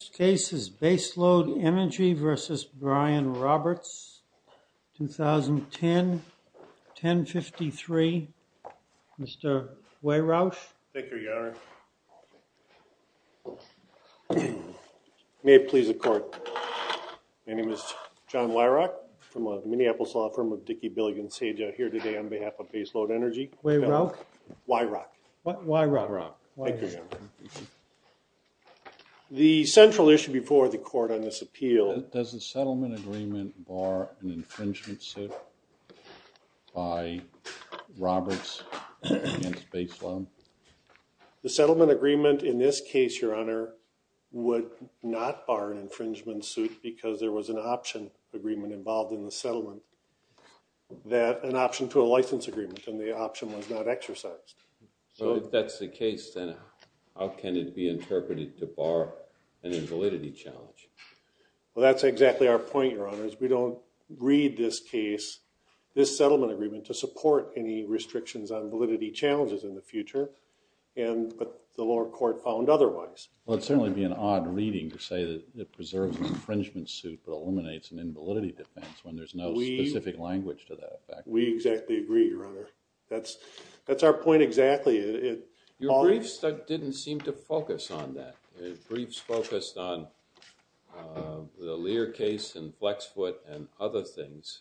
This case is Baseload Energy v. Brian Roberts, 2010-1053. Mr. Wehrauch? Thank you, Your Honor. May it please the Court, my name is John Wehrauch from the Minneapolis law firm of Dickey, Billigan & Sager. I'm here today on behalf of Baseload Energy. Wehrauch? Wehrauch. Wehrauch. Thank you, Your Honor. The central issue before the Court on this appeal... Does the settlement agreement bar an infringement suit by Roberts against Baseload? The settlement agreement in this case, Your Honor, would not bar an infringement suit because there was an option agreement involved in the settlement, an option to a license agreement, and the option was not exercised. So if that's the case, then how can it be interpreted to bar an invalidity challenge? Well, that's exactly our point, Your Honor, is we don't read this case, this settlement agreement, to support any restrictions on validity challenges in the future, but the lower court found otherwise. Well, it would certainly be an odd reading to say that it preserves an infringement suit but eliminates an invalidity defense when there's no specific language to that. We exactly agree, Your Honor. That's our point exactly. Your briefs didn't seem to focus on that. The briefs focused on the Lear case and Flexfoot and other things.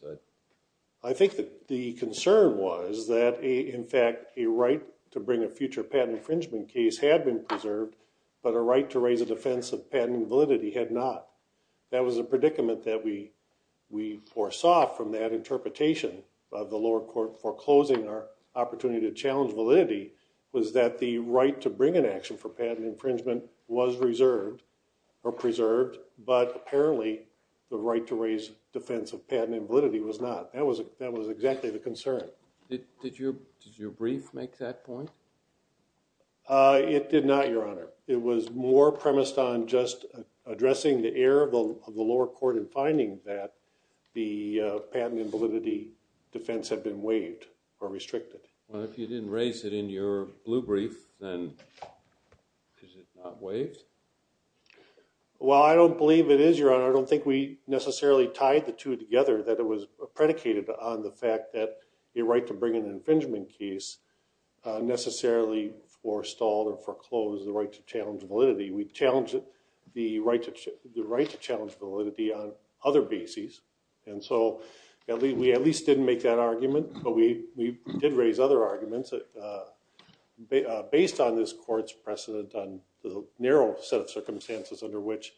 I think the concern was that, in fact, a right to bring a future patent infringement case had been preserved, but a right to raise a defense of patent validity had not. That was a predicament that we foresaw from that interpretation of the lower court foreclosing our opportunity to challenge validity was that the right to bring an action for patent infringement was reserved or preserved, but apparently the right to raise defense of patent validity was not. That was exactly the concern. Did your brief make that point? It did not, Your Honor. It was more premised on just addressing the error of the lower court in finding that the patent invalidity defense had been waived or restricted. Well, if you didn't raise it in your blue brief, then is it not waived? Well, I don't believe it is, Your Honor. I don't think we necessarily tied the two together that it was predicated on the fact that a right to bring an infringement case necessarily forestalled or foreclosed the right to challenge validity. We challenged the right to challenge validity on other bases, and so we at least didn't make that argument, but we did raise other arguments based on this court's precedent on the narrow set of circumstances under which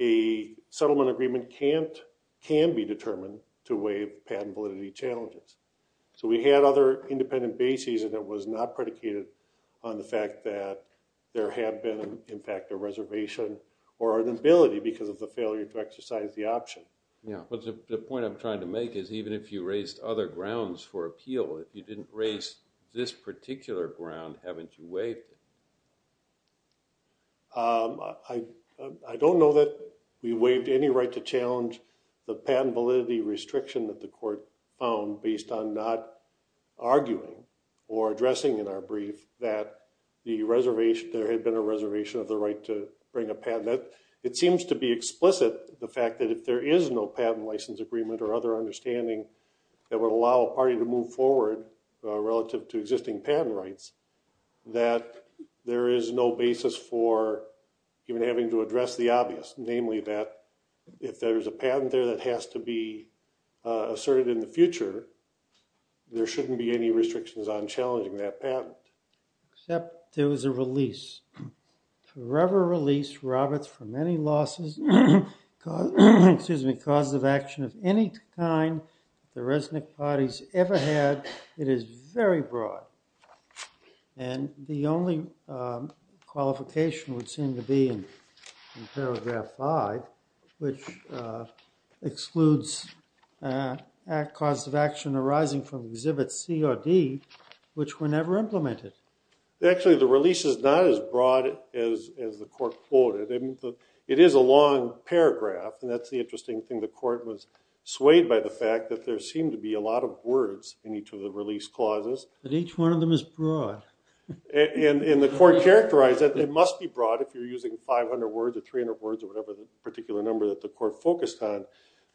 a settlement agreement can be determined to waive patent validity challenges. So we had other independent bases, and it was not predicated on the fact that there had been an impact or reservation or an inability because of the failure to exercise the option. Yeah, but the point I'm trying to make is even if you raised other grounds for appeal, if you didn't raise this particular ground, haven't you waived it? I don't know that we waived any right to challenge the patent validity restriction that the court found based on not arguing or addressing in our brief that there had been a reservation of the right to bring a patent. It seems to be explicit, the fact that if there is no patent license agreement or other understanding that would allow a party to move forward relative to existing patent rights, that there is no basis for even having to address the obvious, namely that if there's a patent there that has to be asserted in the future, there shouldn't be any restrictions on challenging that patent. Except there was a release, forever release, Roberts, from any losses, excuse me, cause of action of any kind the Resnick party's ever had. It is very broad, and the only qualification would seem to be in paragraph five, which excludes cause of action arising from exhibit C or D, which were never implemented. Actually, the release is not as broad as the court quoted. It is a long paragraph, and that's the interesting thing. The court was swayed by the fact that there seemed to be a lot of words in each of the release clauses. But each one of them is broad. And the court characterized that it must be broad if you're using 500 words or 300 words or whatever particular number that the court focused on.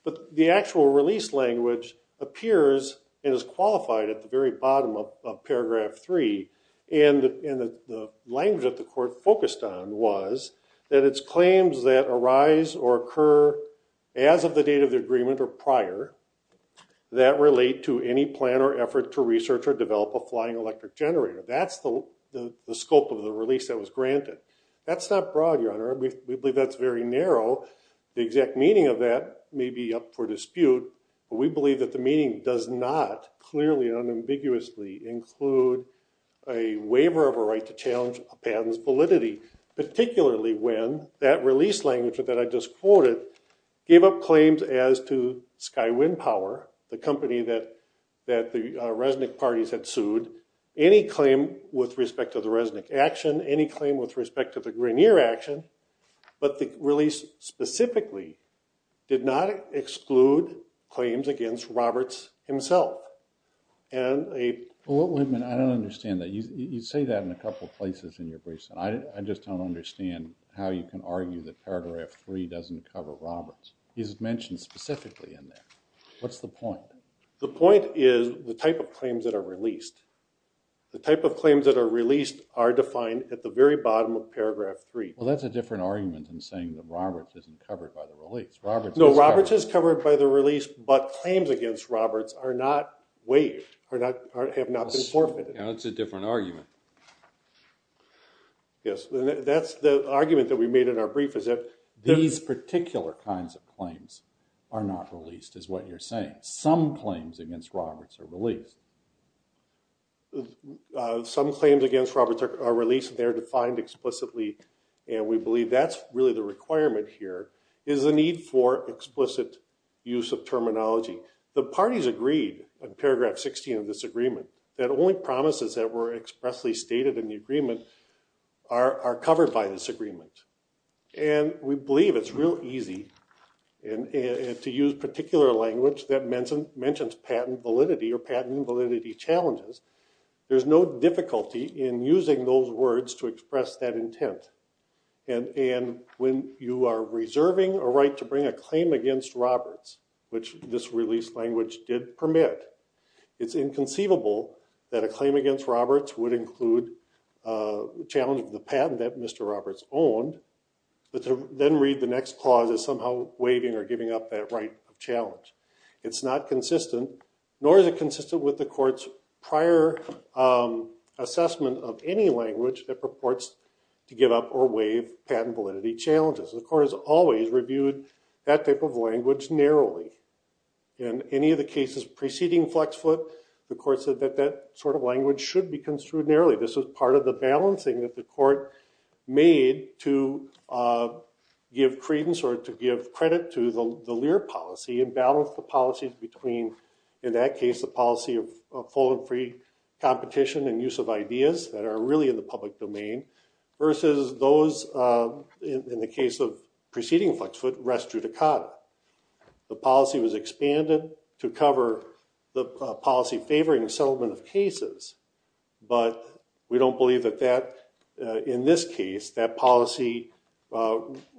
But the actual release language appears and is qualified at the very bottom of paragraph three. And the language that the court focused on was that it's claims that arise or occur as of the date of the agreement or prior that relate to any plan or effort to research or develop a flying electric generator. That's the scope of the release that was granted. That's not broad, Your Honor. We believe that's very narrow. The exact meaning of that may be up for dispute, but we believe that the meaning does not clearly and unambiguously include a waiver of a right to challenge a patent's validity. Particularly when that release language that I just quoted gave up claims as to Skywind Power, the company that the Resnick parties had sued. It included any claim with respect to the Resnick action, any claim with respect to the Grineer action. But the release specifically did not exclude claims against Roberts himself. Wait a minute. I don't understand that. You say that in a couple of places in your briefs. I just don't understand how you can argue that paragraph three doesn't cover Roberts. He's mentioned specifically in there. What's the point? The point is the type of claims that are released. The type of claims that are released are defined at the very bottom of paragraph three. Well, that's a different argument than saying that Roberts isn't covered by the release. No, Roberts is covered by the release, but claims against Roberts are not waived, have not been forfeited. That's a different argument. Yes, that's the argument that we made in our brief. These particular kinds of claims are not released is what you're saying. Some claims against Roberts are released. Some claims against Roberts are released. They're defined explicitly. And we believe that's really the requirement here is the need for explicit use of terminology. The parties agreed on paragraph 16 of this agreement that only promises that were expressly stated in the agreement are covered by this agreement. And we believe it's real easy to use particular language that mentions patent validity or patent validity challenges. There's no difficulty in using those words to express that intent. And when you are reserving a right to bring a claim against Roberts, which this release language did permit, it's inconceivable that a claim against Roberts would include a challenge of the patent that Mr. Roberts owned, but then read the next clause as somehow waiving or giving up that right of challenge. It's not consistent, nor is it consistent with the court's prior assessment of any language that purports to give up or waive patent validity challenges. The court has always reviewed that type of language narrowly. In any of the cases preceding Flexfoot, the court said that that sort of language should be construed narrowly. This was part of the balancing that the court made to give credence or to give credit to the Lear policy and balance the policies between, in that case, the policy of full and free competition and use of ideas that are really in the public domain, versus those, in the case of preceding Flexfoot, res judicata. The policy was expanded to cover the policy favoring the settlement of cases, but we don't believe that that, in this case, that policy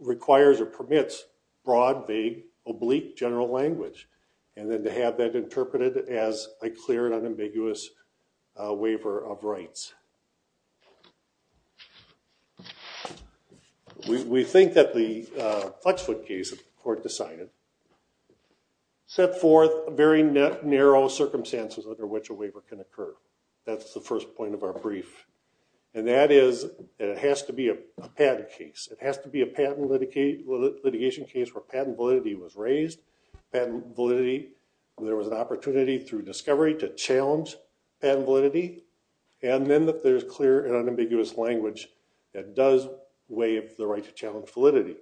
requires or permits broad, vague, oblique general language, and then to have that interpreted as a clear and unambiguous waiver of rights. We think that the Flexfoot case, the court decided, set forth very narrow circumstances under which a waiver can occur. That's the first point of our brief, and that is that it has to be a patent case. It has to be a patent litigation case where patent validity was raised. There was an opportunity through discovery to challenge patent validity, and then that there's clear and unambiguous language that does waive the right to challenge validity,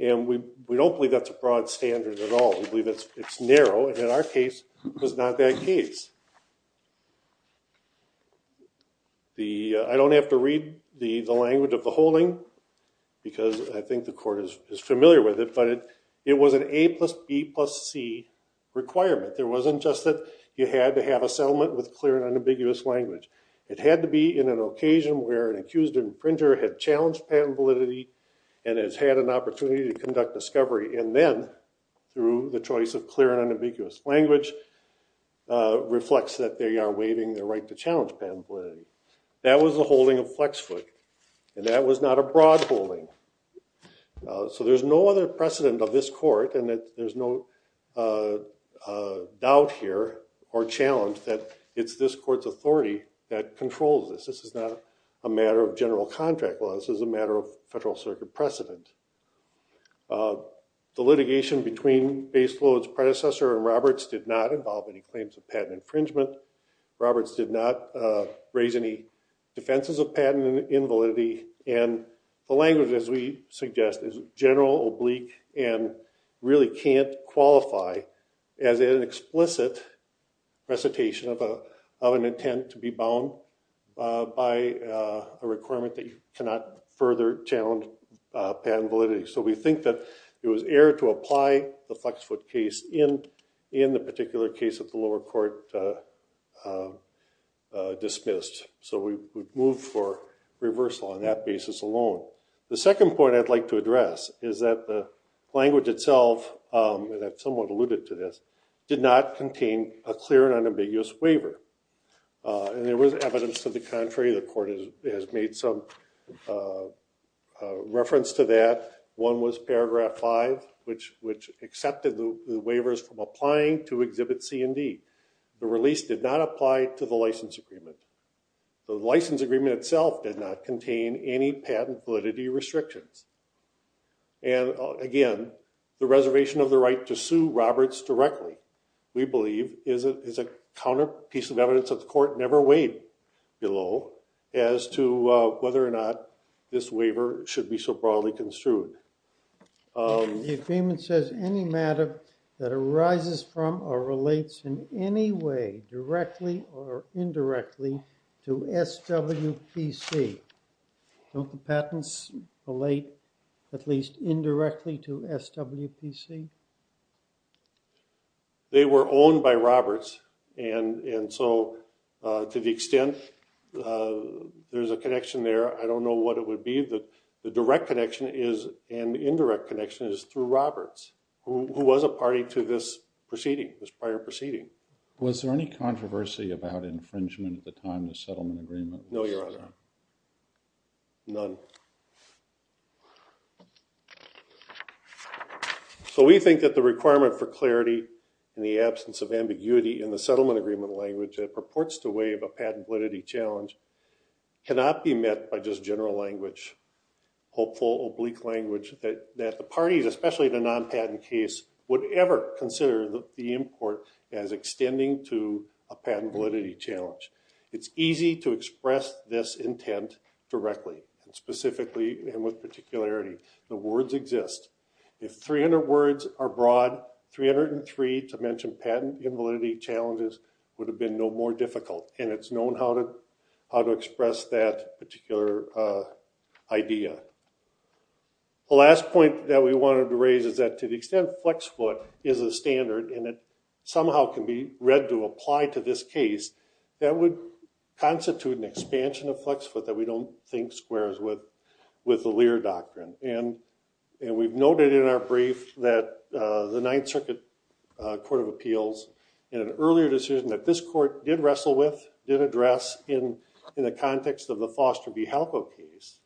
and we don't believe that's a broad standard at all. We believe it's narrow, and in our case, it was not that case. I don't have to read the language of the holding because I think the court is familiar with it, but it was an A plus B plus C requirement. There wasn't just that you had to have a settlement with clear and unambiguous language. It had to be in an occasion where an accused imprinter had challenged patent validity and has had an opportunity to conduct discovery, and then, through the choice of clear and unambiguous language, reflects that they are waiving the right to challenge patent validity. That was the holding of Flexfoot, and that was not a broad holding. So there's no other precedent of this court, and there's no doubt here or challenge that it's this court's authority that controls this. This is not a matter of general contract law. This is a matter of Federal Circuit precedent. The litigation between Baseload's predecessor and Roberts did not involve any claims of patent infringement. Roberts did not raise any defenses of patent invalidity, and the language, as we suggest, is general, oblique, and really can't qualify as an explicit recitation of an intent to be bound by a requirement that you cannot further challenge patent validity. So we think that it was error to apply the Flexfoot case in the particular case that the lower court dismissed. So we would move for reversal on that basis alone. The second point I'd like to address is that the language itself, and I've somewhat alluded to this, did not contain a clear and unambiguous waiver, and there was evidence to the contrary. The court has made some reference to that. One was paragraph 5, which accepted the waivers from applying to Exhibit C and D. The release did not apply to the license agreement. The license agreement itself did not contain any patent validity restrictions. And again, the reservation of the right to sue Roberts directly, we believe, is a counter piece of evidence that the court never weighed below as to whether or not this waiver should be so broadly construed. The agreement says any matter that arises from or relates in any way directly or indirectly to SWPC. Don't the patents relate at least indirectly to SWPC? They were owned by Roberts, and so to the extent there's a connection there, I don't know what it would be. But we believe that the direct connection and indirect connection is through Roberts, who was a party to this proceeding, this prior proceeding. Was there any controversy about infringement at the time of the settlement agreement? No, Your Honor. None. So we think that the requirement for clarity in the absence of ambiguity in the settlement agreement language that purports to waive a patent validity challenge cannot be met by just general language, hopeful, oblique language, that the parties, especially the non-patent case, would ever consider the import as extending to a patent validity challenge. It's easy to express this intent directly and specifically and with particularity. The words exist. If 300 words are broad, 303 to mention patent invalidity challenges would have been no more difficult, and it's known how to express that particular idea. The last point that we wanted to raise is that to the extent FlexFoot is a standard and it somehow can be read to apply to this case, that would constitute an expansion of FlexFoot that we don't think squares with the Lear Doctrine. And we've noted in our brief that the Ninth Circuit Court of Appeals, in an earlier decision that this court did wrestle with, did address in the context of the Foster v. Halco case,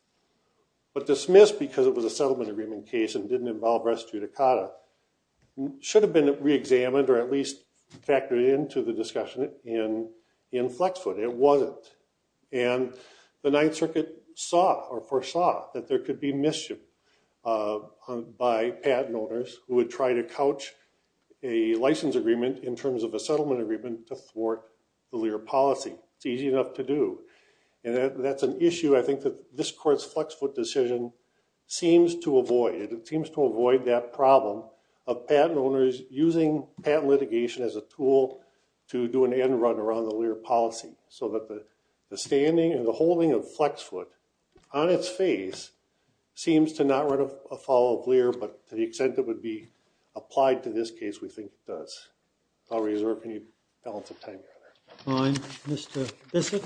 but dismissed because it was a settlement agreement case and didn't involve res judicata, should have been reexamined or at least factored into the discussion in FlexFoot. It wasn't. And the Ninth Circuit saw or foresaw that there could be mischief by patent owners who would try to couch a license agreement in terms of a settlement agreement to thwart the Lear policy. It's easy enough to do. And that's an issue I think that this court's FlexFoot decision seems to avoid. It seems to avoid that problem of patent owners using patent litigation as a tool to do an end run around the Lear policy so that the standing and the holding of FlexFoot on its face seems to not run afoul of Lear, but to the extent it would be applied to this case, we think it does. If I'll reserve any balance of time here. Mr. Bissett.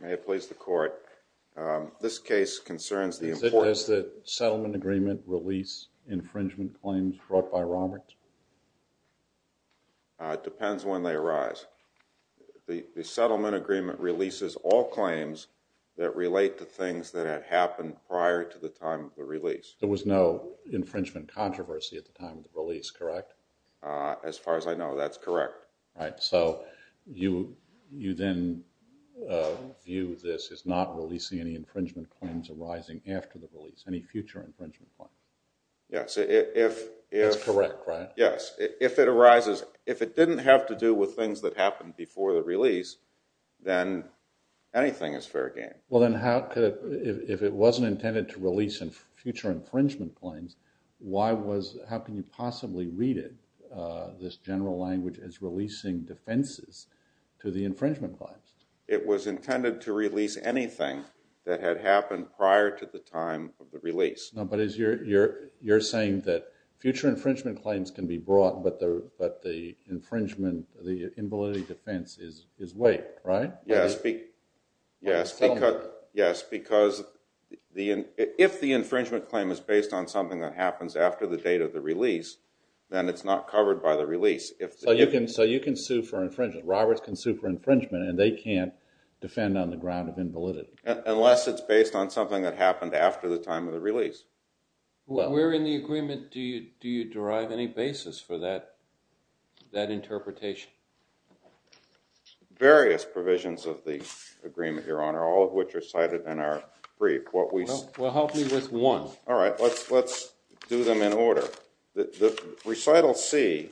May it please the court. This case concerns the importance. Does the settlement agreement release infringement claims brought by Roberts? It depends when they arise. The settlement agreement releases all claims that relate to things that had happened prior to the time of the release. There was no infringement controversy at the time of the release, correct? As far as I know, that's correct. All right. So you then view this as not releasing any infringement claims arising after the release, any future infringement claims? Yes. That's correct, right? Yes. If it didn't have to do with things that happened before the release, then anything is fair game. Well then, if it wasn't intended to release future infringement claims, how can you possibly read it, this general language, as releasing defenses to the infringement claims? It was intended to release anything that had happened prior to the time of the release. No, but you're saying that future infringement claims can be brought, but the infringement, the invalidity defense is waived, right? Yes, because if the infringement claim is based on something that happens after the date of the release, then it's not covered by the release. So you can sue for infringement. Roberts can sue for infringement, and they can't defend on the ground of invalidity. Unless it's based on something that happened after the time of the release. Where in the agreement do you derive any basis for that interpretation? Various provisions of the agreement, Your Honor, all of which are cited in our brief. Well, help me with one. All right, let's do them in order. The recital C,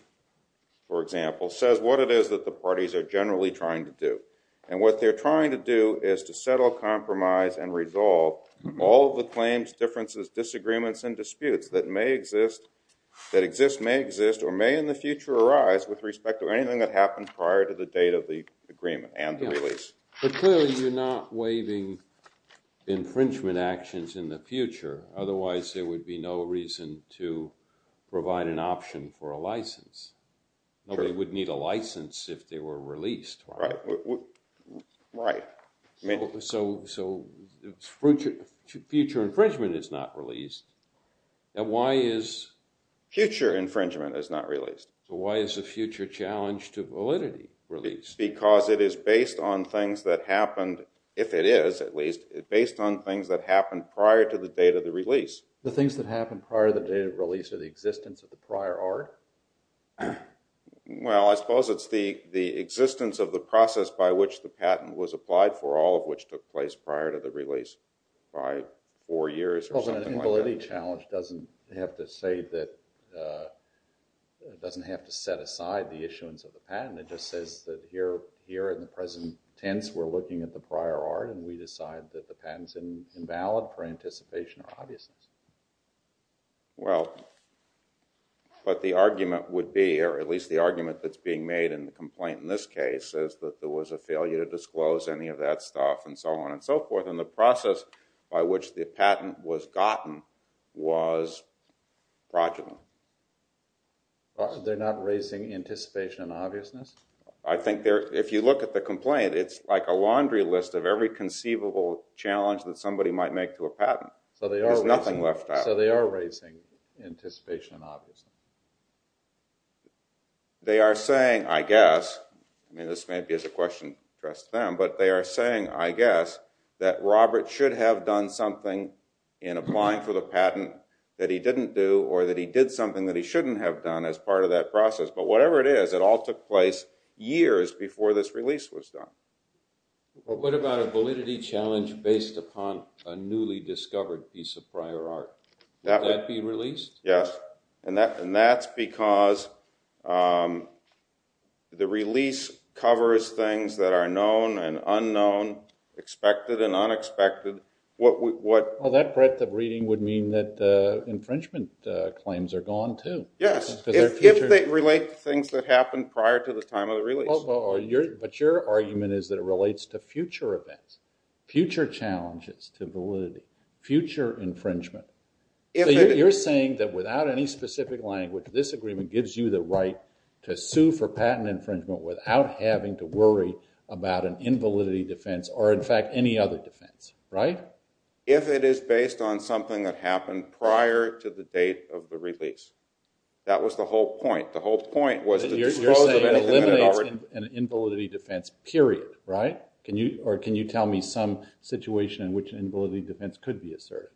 for example, says what it is that the parties are generally trying to do. And what they're trying to do is to settle, compromise, and resolve all of the claims, differences, disagreements, and disputes that may exist, that exist, may exist, or may in the future arise with respect to anything that happened prior to the date of the agreement and the release. But clearly, you're not waiving infringement actions in the future. Otherwise, there would be no reason to provide an option for a license. Nobody would need a license if they were released. Right. So future infringement is not released. And why is future infringement is not released? Why is the future challenge to validity released? Because it is based on things that happened, if it is at least, based on things that happened prior to the date of the release. The things that happened prior to the date of release are the existence of the prior art? Well, I suppose it's the existence of the process by which the patent was applied for, all of which took place prior to the release by four years or something like that. The validity challenge doesn't have to set aside the issuance of the patent. It just says that here in the present tense, we're looking at the prior art, and we decide that the patent's invalid for anticipation or obviousness. Well, but the argument would be, or at least the argument that's being made in the complaint in this case, is that there was a failure to disclose any of that stuff, and so on and so forth. And the process by which the patent was gotten was fraudulent. They're not raising anticipation and obviousness? I think if you look at the complaint, it's like a laundry list of every conceivable challenge that somebody might make to a patent. So they are raising anticipation and obviousness. They are saying, I guess, this may be a question addressed to them, but they are saying, I guess, that Robert should have done something in applying for the patent that he didn't do, or that he did something that he shouldn't have done as part of that process. But whatever it is, it all took place years before this release was done. What about a validity challenge based upon a newly discovered piece of prior art? Would that be released? Yes, and that's because the release covers things that are known and unknown, expected and unexpected. Well, that breadth of reading would mean that infringement claims are gone, too. Yes, if they relate to things that happened prior to the time of the release. But your argument is that it relates to future events, future challenges to validity, future infringement. So you're saying that without any specific language, this agreement gives you the right to sue for patent infringement without having to worry about an invalidity defense or, in fact, any other defense, right? If it is based on something that happened prior to the date of the release. That was the whole point. The whole point was to dispose of an illimited art. You're saying it eliminates an invalidity defense, period, right? Or can you tell me some situation in which an invalidity defense could be asserted?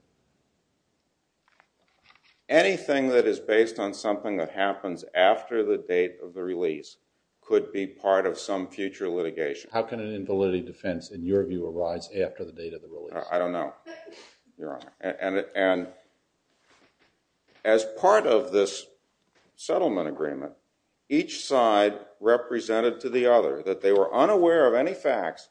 Anything that is based on something that happens after the date of the release could be part of some future litigation. How can an invalidity defense, in your view, arise after the date of the release? And as part of this settlement agreement, each side represented to the other that they were unaware of any facts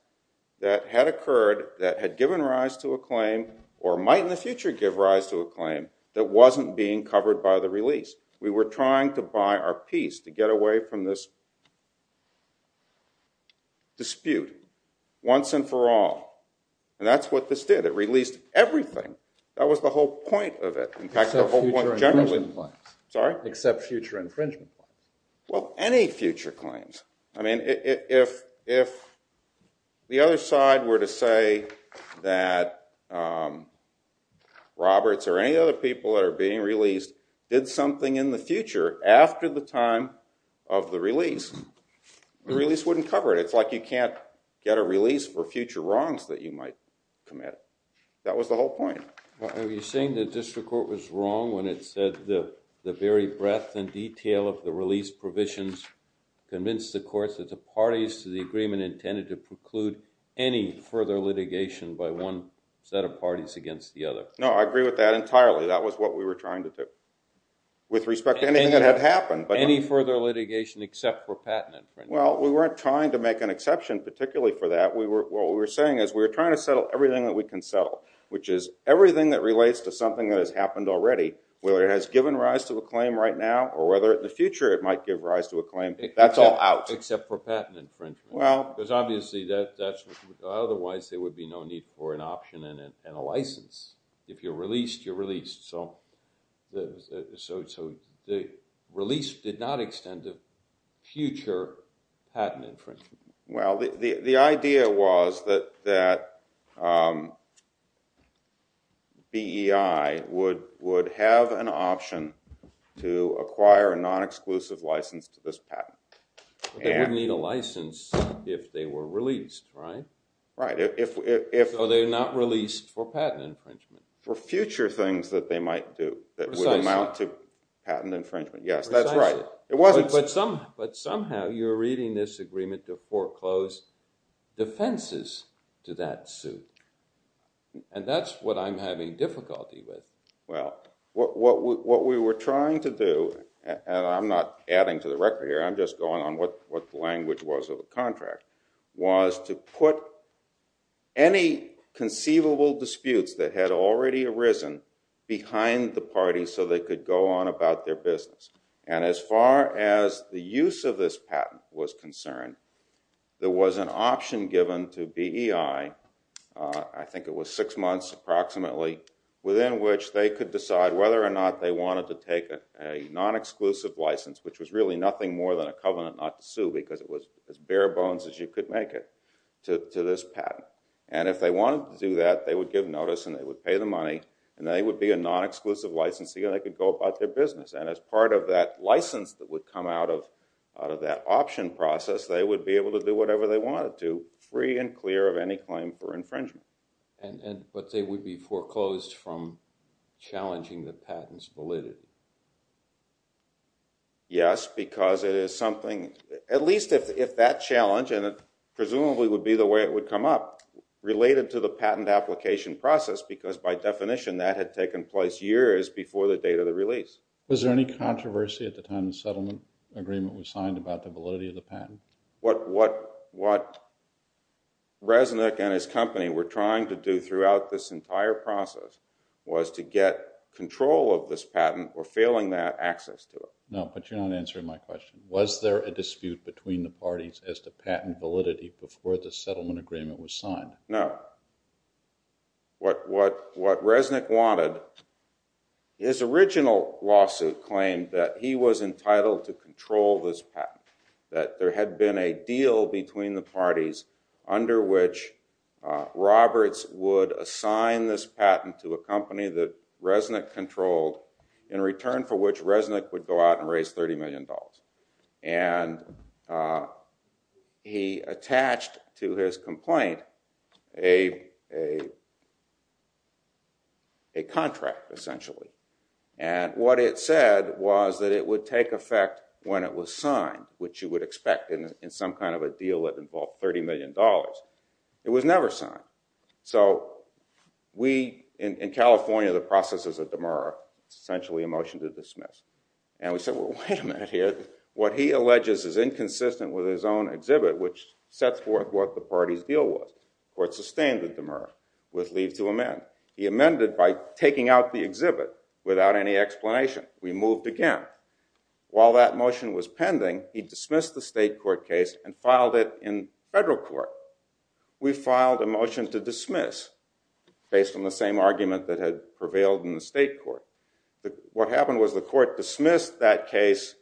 that had occurred that had given rise to a claim or might in the future give rise to a claim that wasn't being covered by the release. We were trying to buy our peace to get away from this dispute once and for all. And that's what this did. It released everything. That was the whole point of it. Except future infringement claims. Well, any future claims. I mean, if the other side were to say that Roberts or any other people that are being released did something in the future after the time of the release, the release wouldn't cover it. It's like you can't get a release for future wrongs that you might commit. That was the whole point. Are you saying the district court was wrong when it said the very breadth and detail of the release provisions convinced the courts that the parties to the agreement intended to preclude any further litigation by one set of parties against the other? No, I agree with that entirely. That was what we were trying to do with respect to anything that had happened. Any further litigation except for patent infringement? Well, we weren't trying to make an exception particularly for that. What we were saying is we were trying to settle everything that we can settle, which is everything that relates to something that has happened already, whether it has given rise to a claim right now or whether in the future it might give rise to a claim. That's all out. Except for patent infringement. Well. Because obviously otherwise there would be no need for an option and a license. If you're released, you're released. So the release did not extend to future patent infringement. Well, the idea was that BEI would have an option to acquire a non-exclusive license to this patent. They would need a license if they were released, right? Right. So they're not released for patent infringement. For future things that they might do that would amount to patent infringement. Precisely. Yes, that's right. But somehow you're reading this agreement to foreclose defenses to that suit. And that's what I'm having difficulty with. Well, what we were trying to do, and I'm not adding to the record here, I'm just going on what the language was of the contract, was to put any conceivable disputes that had already arisen behind the party so they could go on about their business. And as far as the use of this patent was concerned, there was an option given to BEI, I think it was six months approximately, within which they could decide whether or not they wanted to take a non-exclusive license, which was really nothing more than a covenant not to sue because it was as bare bones as you could make it, to this patent. And if they wanted to do that, they would give notice and they would pay the money and they would be a non-exclusive license so they could go about their business. And as part of that license that would come out of that option process, they would be able to do whatever they wanted to, free and clear of any claim for infringement. But they would be foreclosed from challenging the patent's validity. Yes, because it is something, at least if that challenge, and it presumably would be the way it would come up, related to the patent application process because by definition that had taken place years before the date of the release. Was there any controversy at the time the settlement agreement was signed about the validity of the patent? What Resnick and his company were trying to do throughout this entire process was to get control of this patent or failing that, access to it. No, but you're not answering my question. Was there a dispute between the parties as to patent validity before the settlement agreement was signed? No. What Resnick wanted, his original lawsuit claimed that he was entitled to control this patent. That there had been a deal between the parties under which Roberts would assign this patent to a company that Resnick controlled in return for which Resnick would go out and raise $30 million. And he attached to his complaint a contract, essentially. And what it said was that it would take effect when it was signed, which you would expect in some kind of a deal that involved $30 million. It was never signed. So we, in California, the process is a demurra. It's essentially a motion to dismiss. And we said, well, wait a minute here. What he alleges is inconsistent with his own exhibit, which sets forth what the party's deal was. It's a standard demurra with leave to amend. He amended by taking out the exhibit without any explanation. We moved again. While that motion was pending, he dismissed the state court case and filed it in federal court. We filed a motion to dismiss based on the same argument that had prevailed in the state court. What happened was the court dismissed that case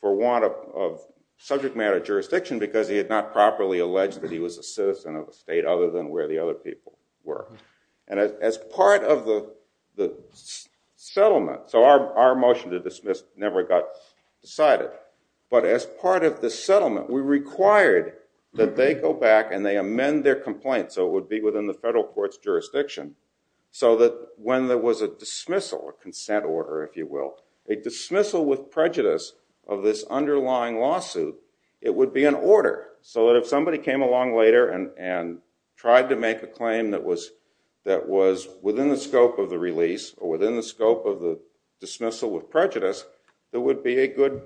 for want of subject matter jurisdiction because he had not properly alleged that he was a citizen of the state other than where the other people were. And as part of the settlement, so our motion to dismiss never got decided. But as part of the settlement, we required that they go back and they amend their complaint so it would be within the federal court's jurisdiction. So that when there was a dismissal, a consent order, if you will, a dismissal with prejudice of this underlying lawsuit, it would be an order. So that if somebody came along later and tried to make a claim that was within the scope of the release or within the scope of the dismissal with prejudice, it would be a good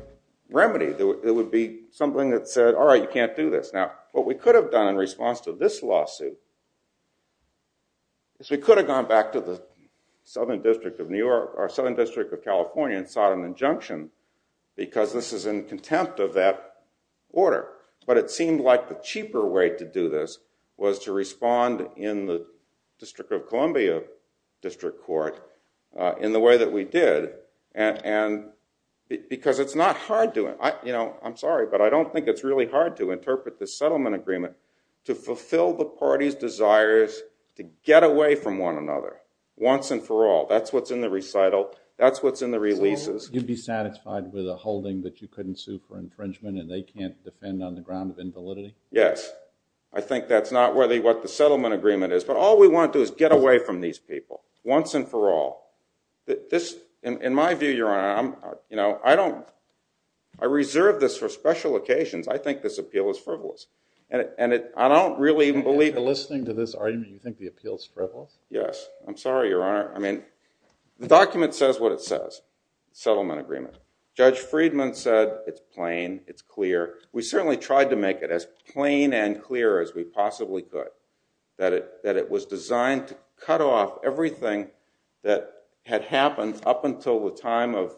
remedy. It would be something that said, all right, you can't do this. Now, what we could have done in response to this lawsuit is we could have gone back to the Southern District of California and sought an injunction because this is in contempt of that order. But it seemed like the cheaper way to do this was to respond in the District of Columbia District Court in the way that we did. And because it's not hard to, you know, I'm sorry, but I don't think it's really hard to interpret the settlement agreement to fulfill the party's desires to get away from one another once and for all. That's what's in the recital. That's what's in the releases. You'd be satisfied with a holding that you couldn't sue for infringement and they can't defend on the ground of invalidity? Yes. I think that's not really what the settlement agreement is. But all we want to do is get away from these people once and for all. In my view, Your Honor, I reserve this for special occasions. I think this appeal is frivolous. And I don't really believe it. Listening to this argument, you think the appeal is frivolous? Yes. I'm sorry, Your Honor. I mean, the document says what it says. Settlement agreement. Judge Friedman said it's plain, it's clear. We certainly tried to make it as plain and clear as we possibly could, that it was designed to cut off everything that had happened up until the time of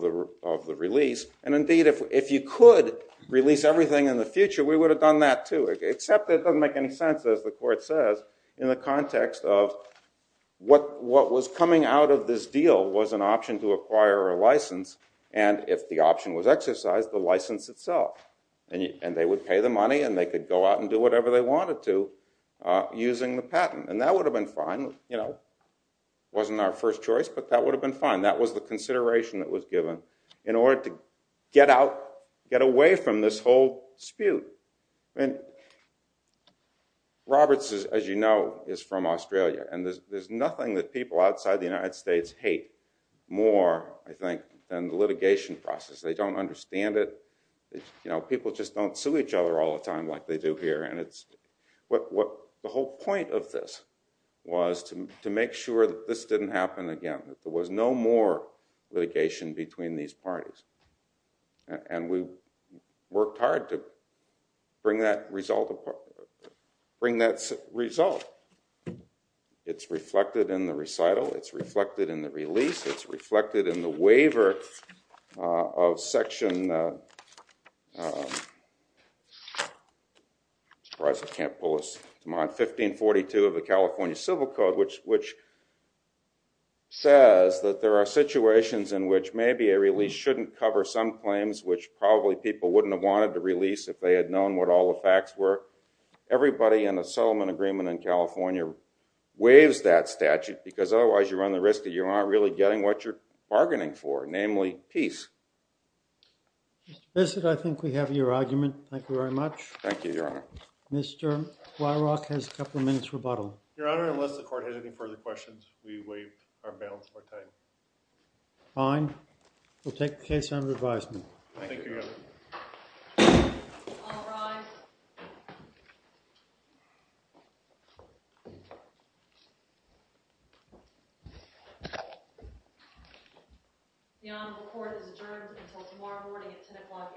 the release. And indeed, if you could release everything in the future, we would have done that too. Except it doesn't make any sense, as the court says, in the context of what was coming out of this deal was an option to acquire a license. And if the option was exercised, the license itself. And they would pay the money and they could go out and do whatever they wanted to using the patent. And that would have been fine. It wasn't our first choice, but that would have been fine. And that was the consideration that was given in order to get out, get away from this whole dispute. Roberts, as you know, is from Australia. And there's nothing that people outside the United States hate more, I think, than the litigation process. They don't understand it. People just don't sue each other all the time like they do here. The whole point of this was to make sure that this didn't happen again, that there was no more litigation between these parties. And we worked hard to bring that result. It's reflected in the recital. It's reflected in the release. It's reflected in the waiver of Section 1542 of the California Civil Code, which says that there are situations in which maybe a release shouldn't cover some claims, which probably people wouldn't have wanted to release if they had known what all the facts were. Everybody in the settlement agreement in California waives that statute, because otherwise you run the risk that you aren't really getting what you're bargaining for, namely, peace. Mr. Bissett, I think we have your argument. Thank you very much. Thank you, Your Honor. Mr. Wyrock has a couple minutes rebuttal. Your Honor, unless the Court has any further questions, we waive our balance of our time. Fine. We'll take the case under advisement. Thank you, Your Honor. All rise. The Honorable Court is adjourned until tomorrow morning at 10 o'clock a.m.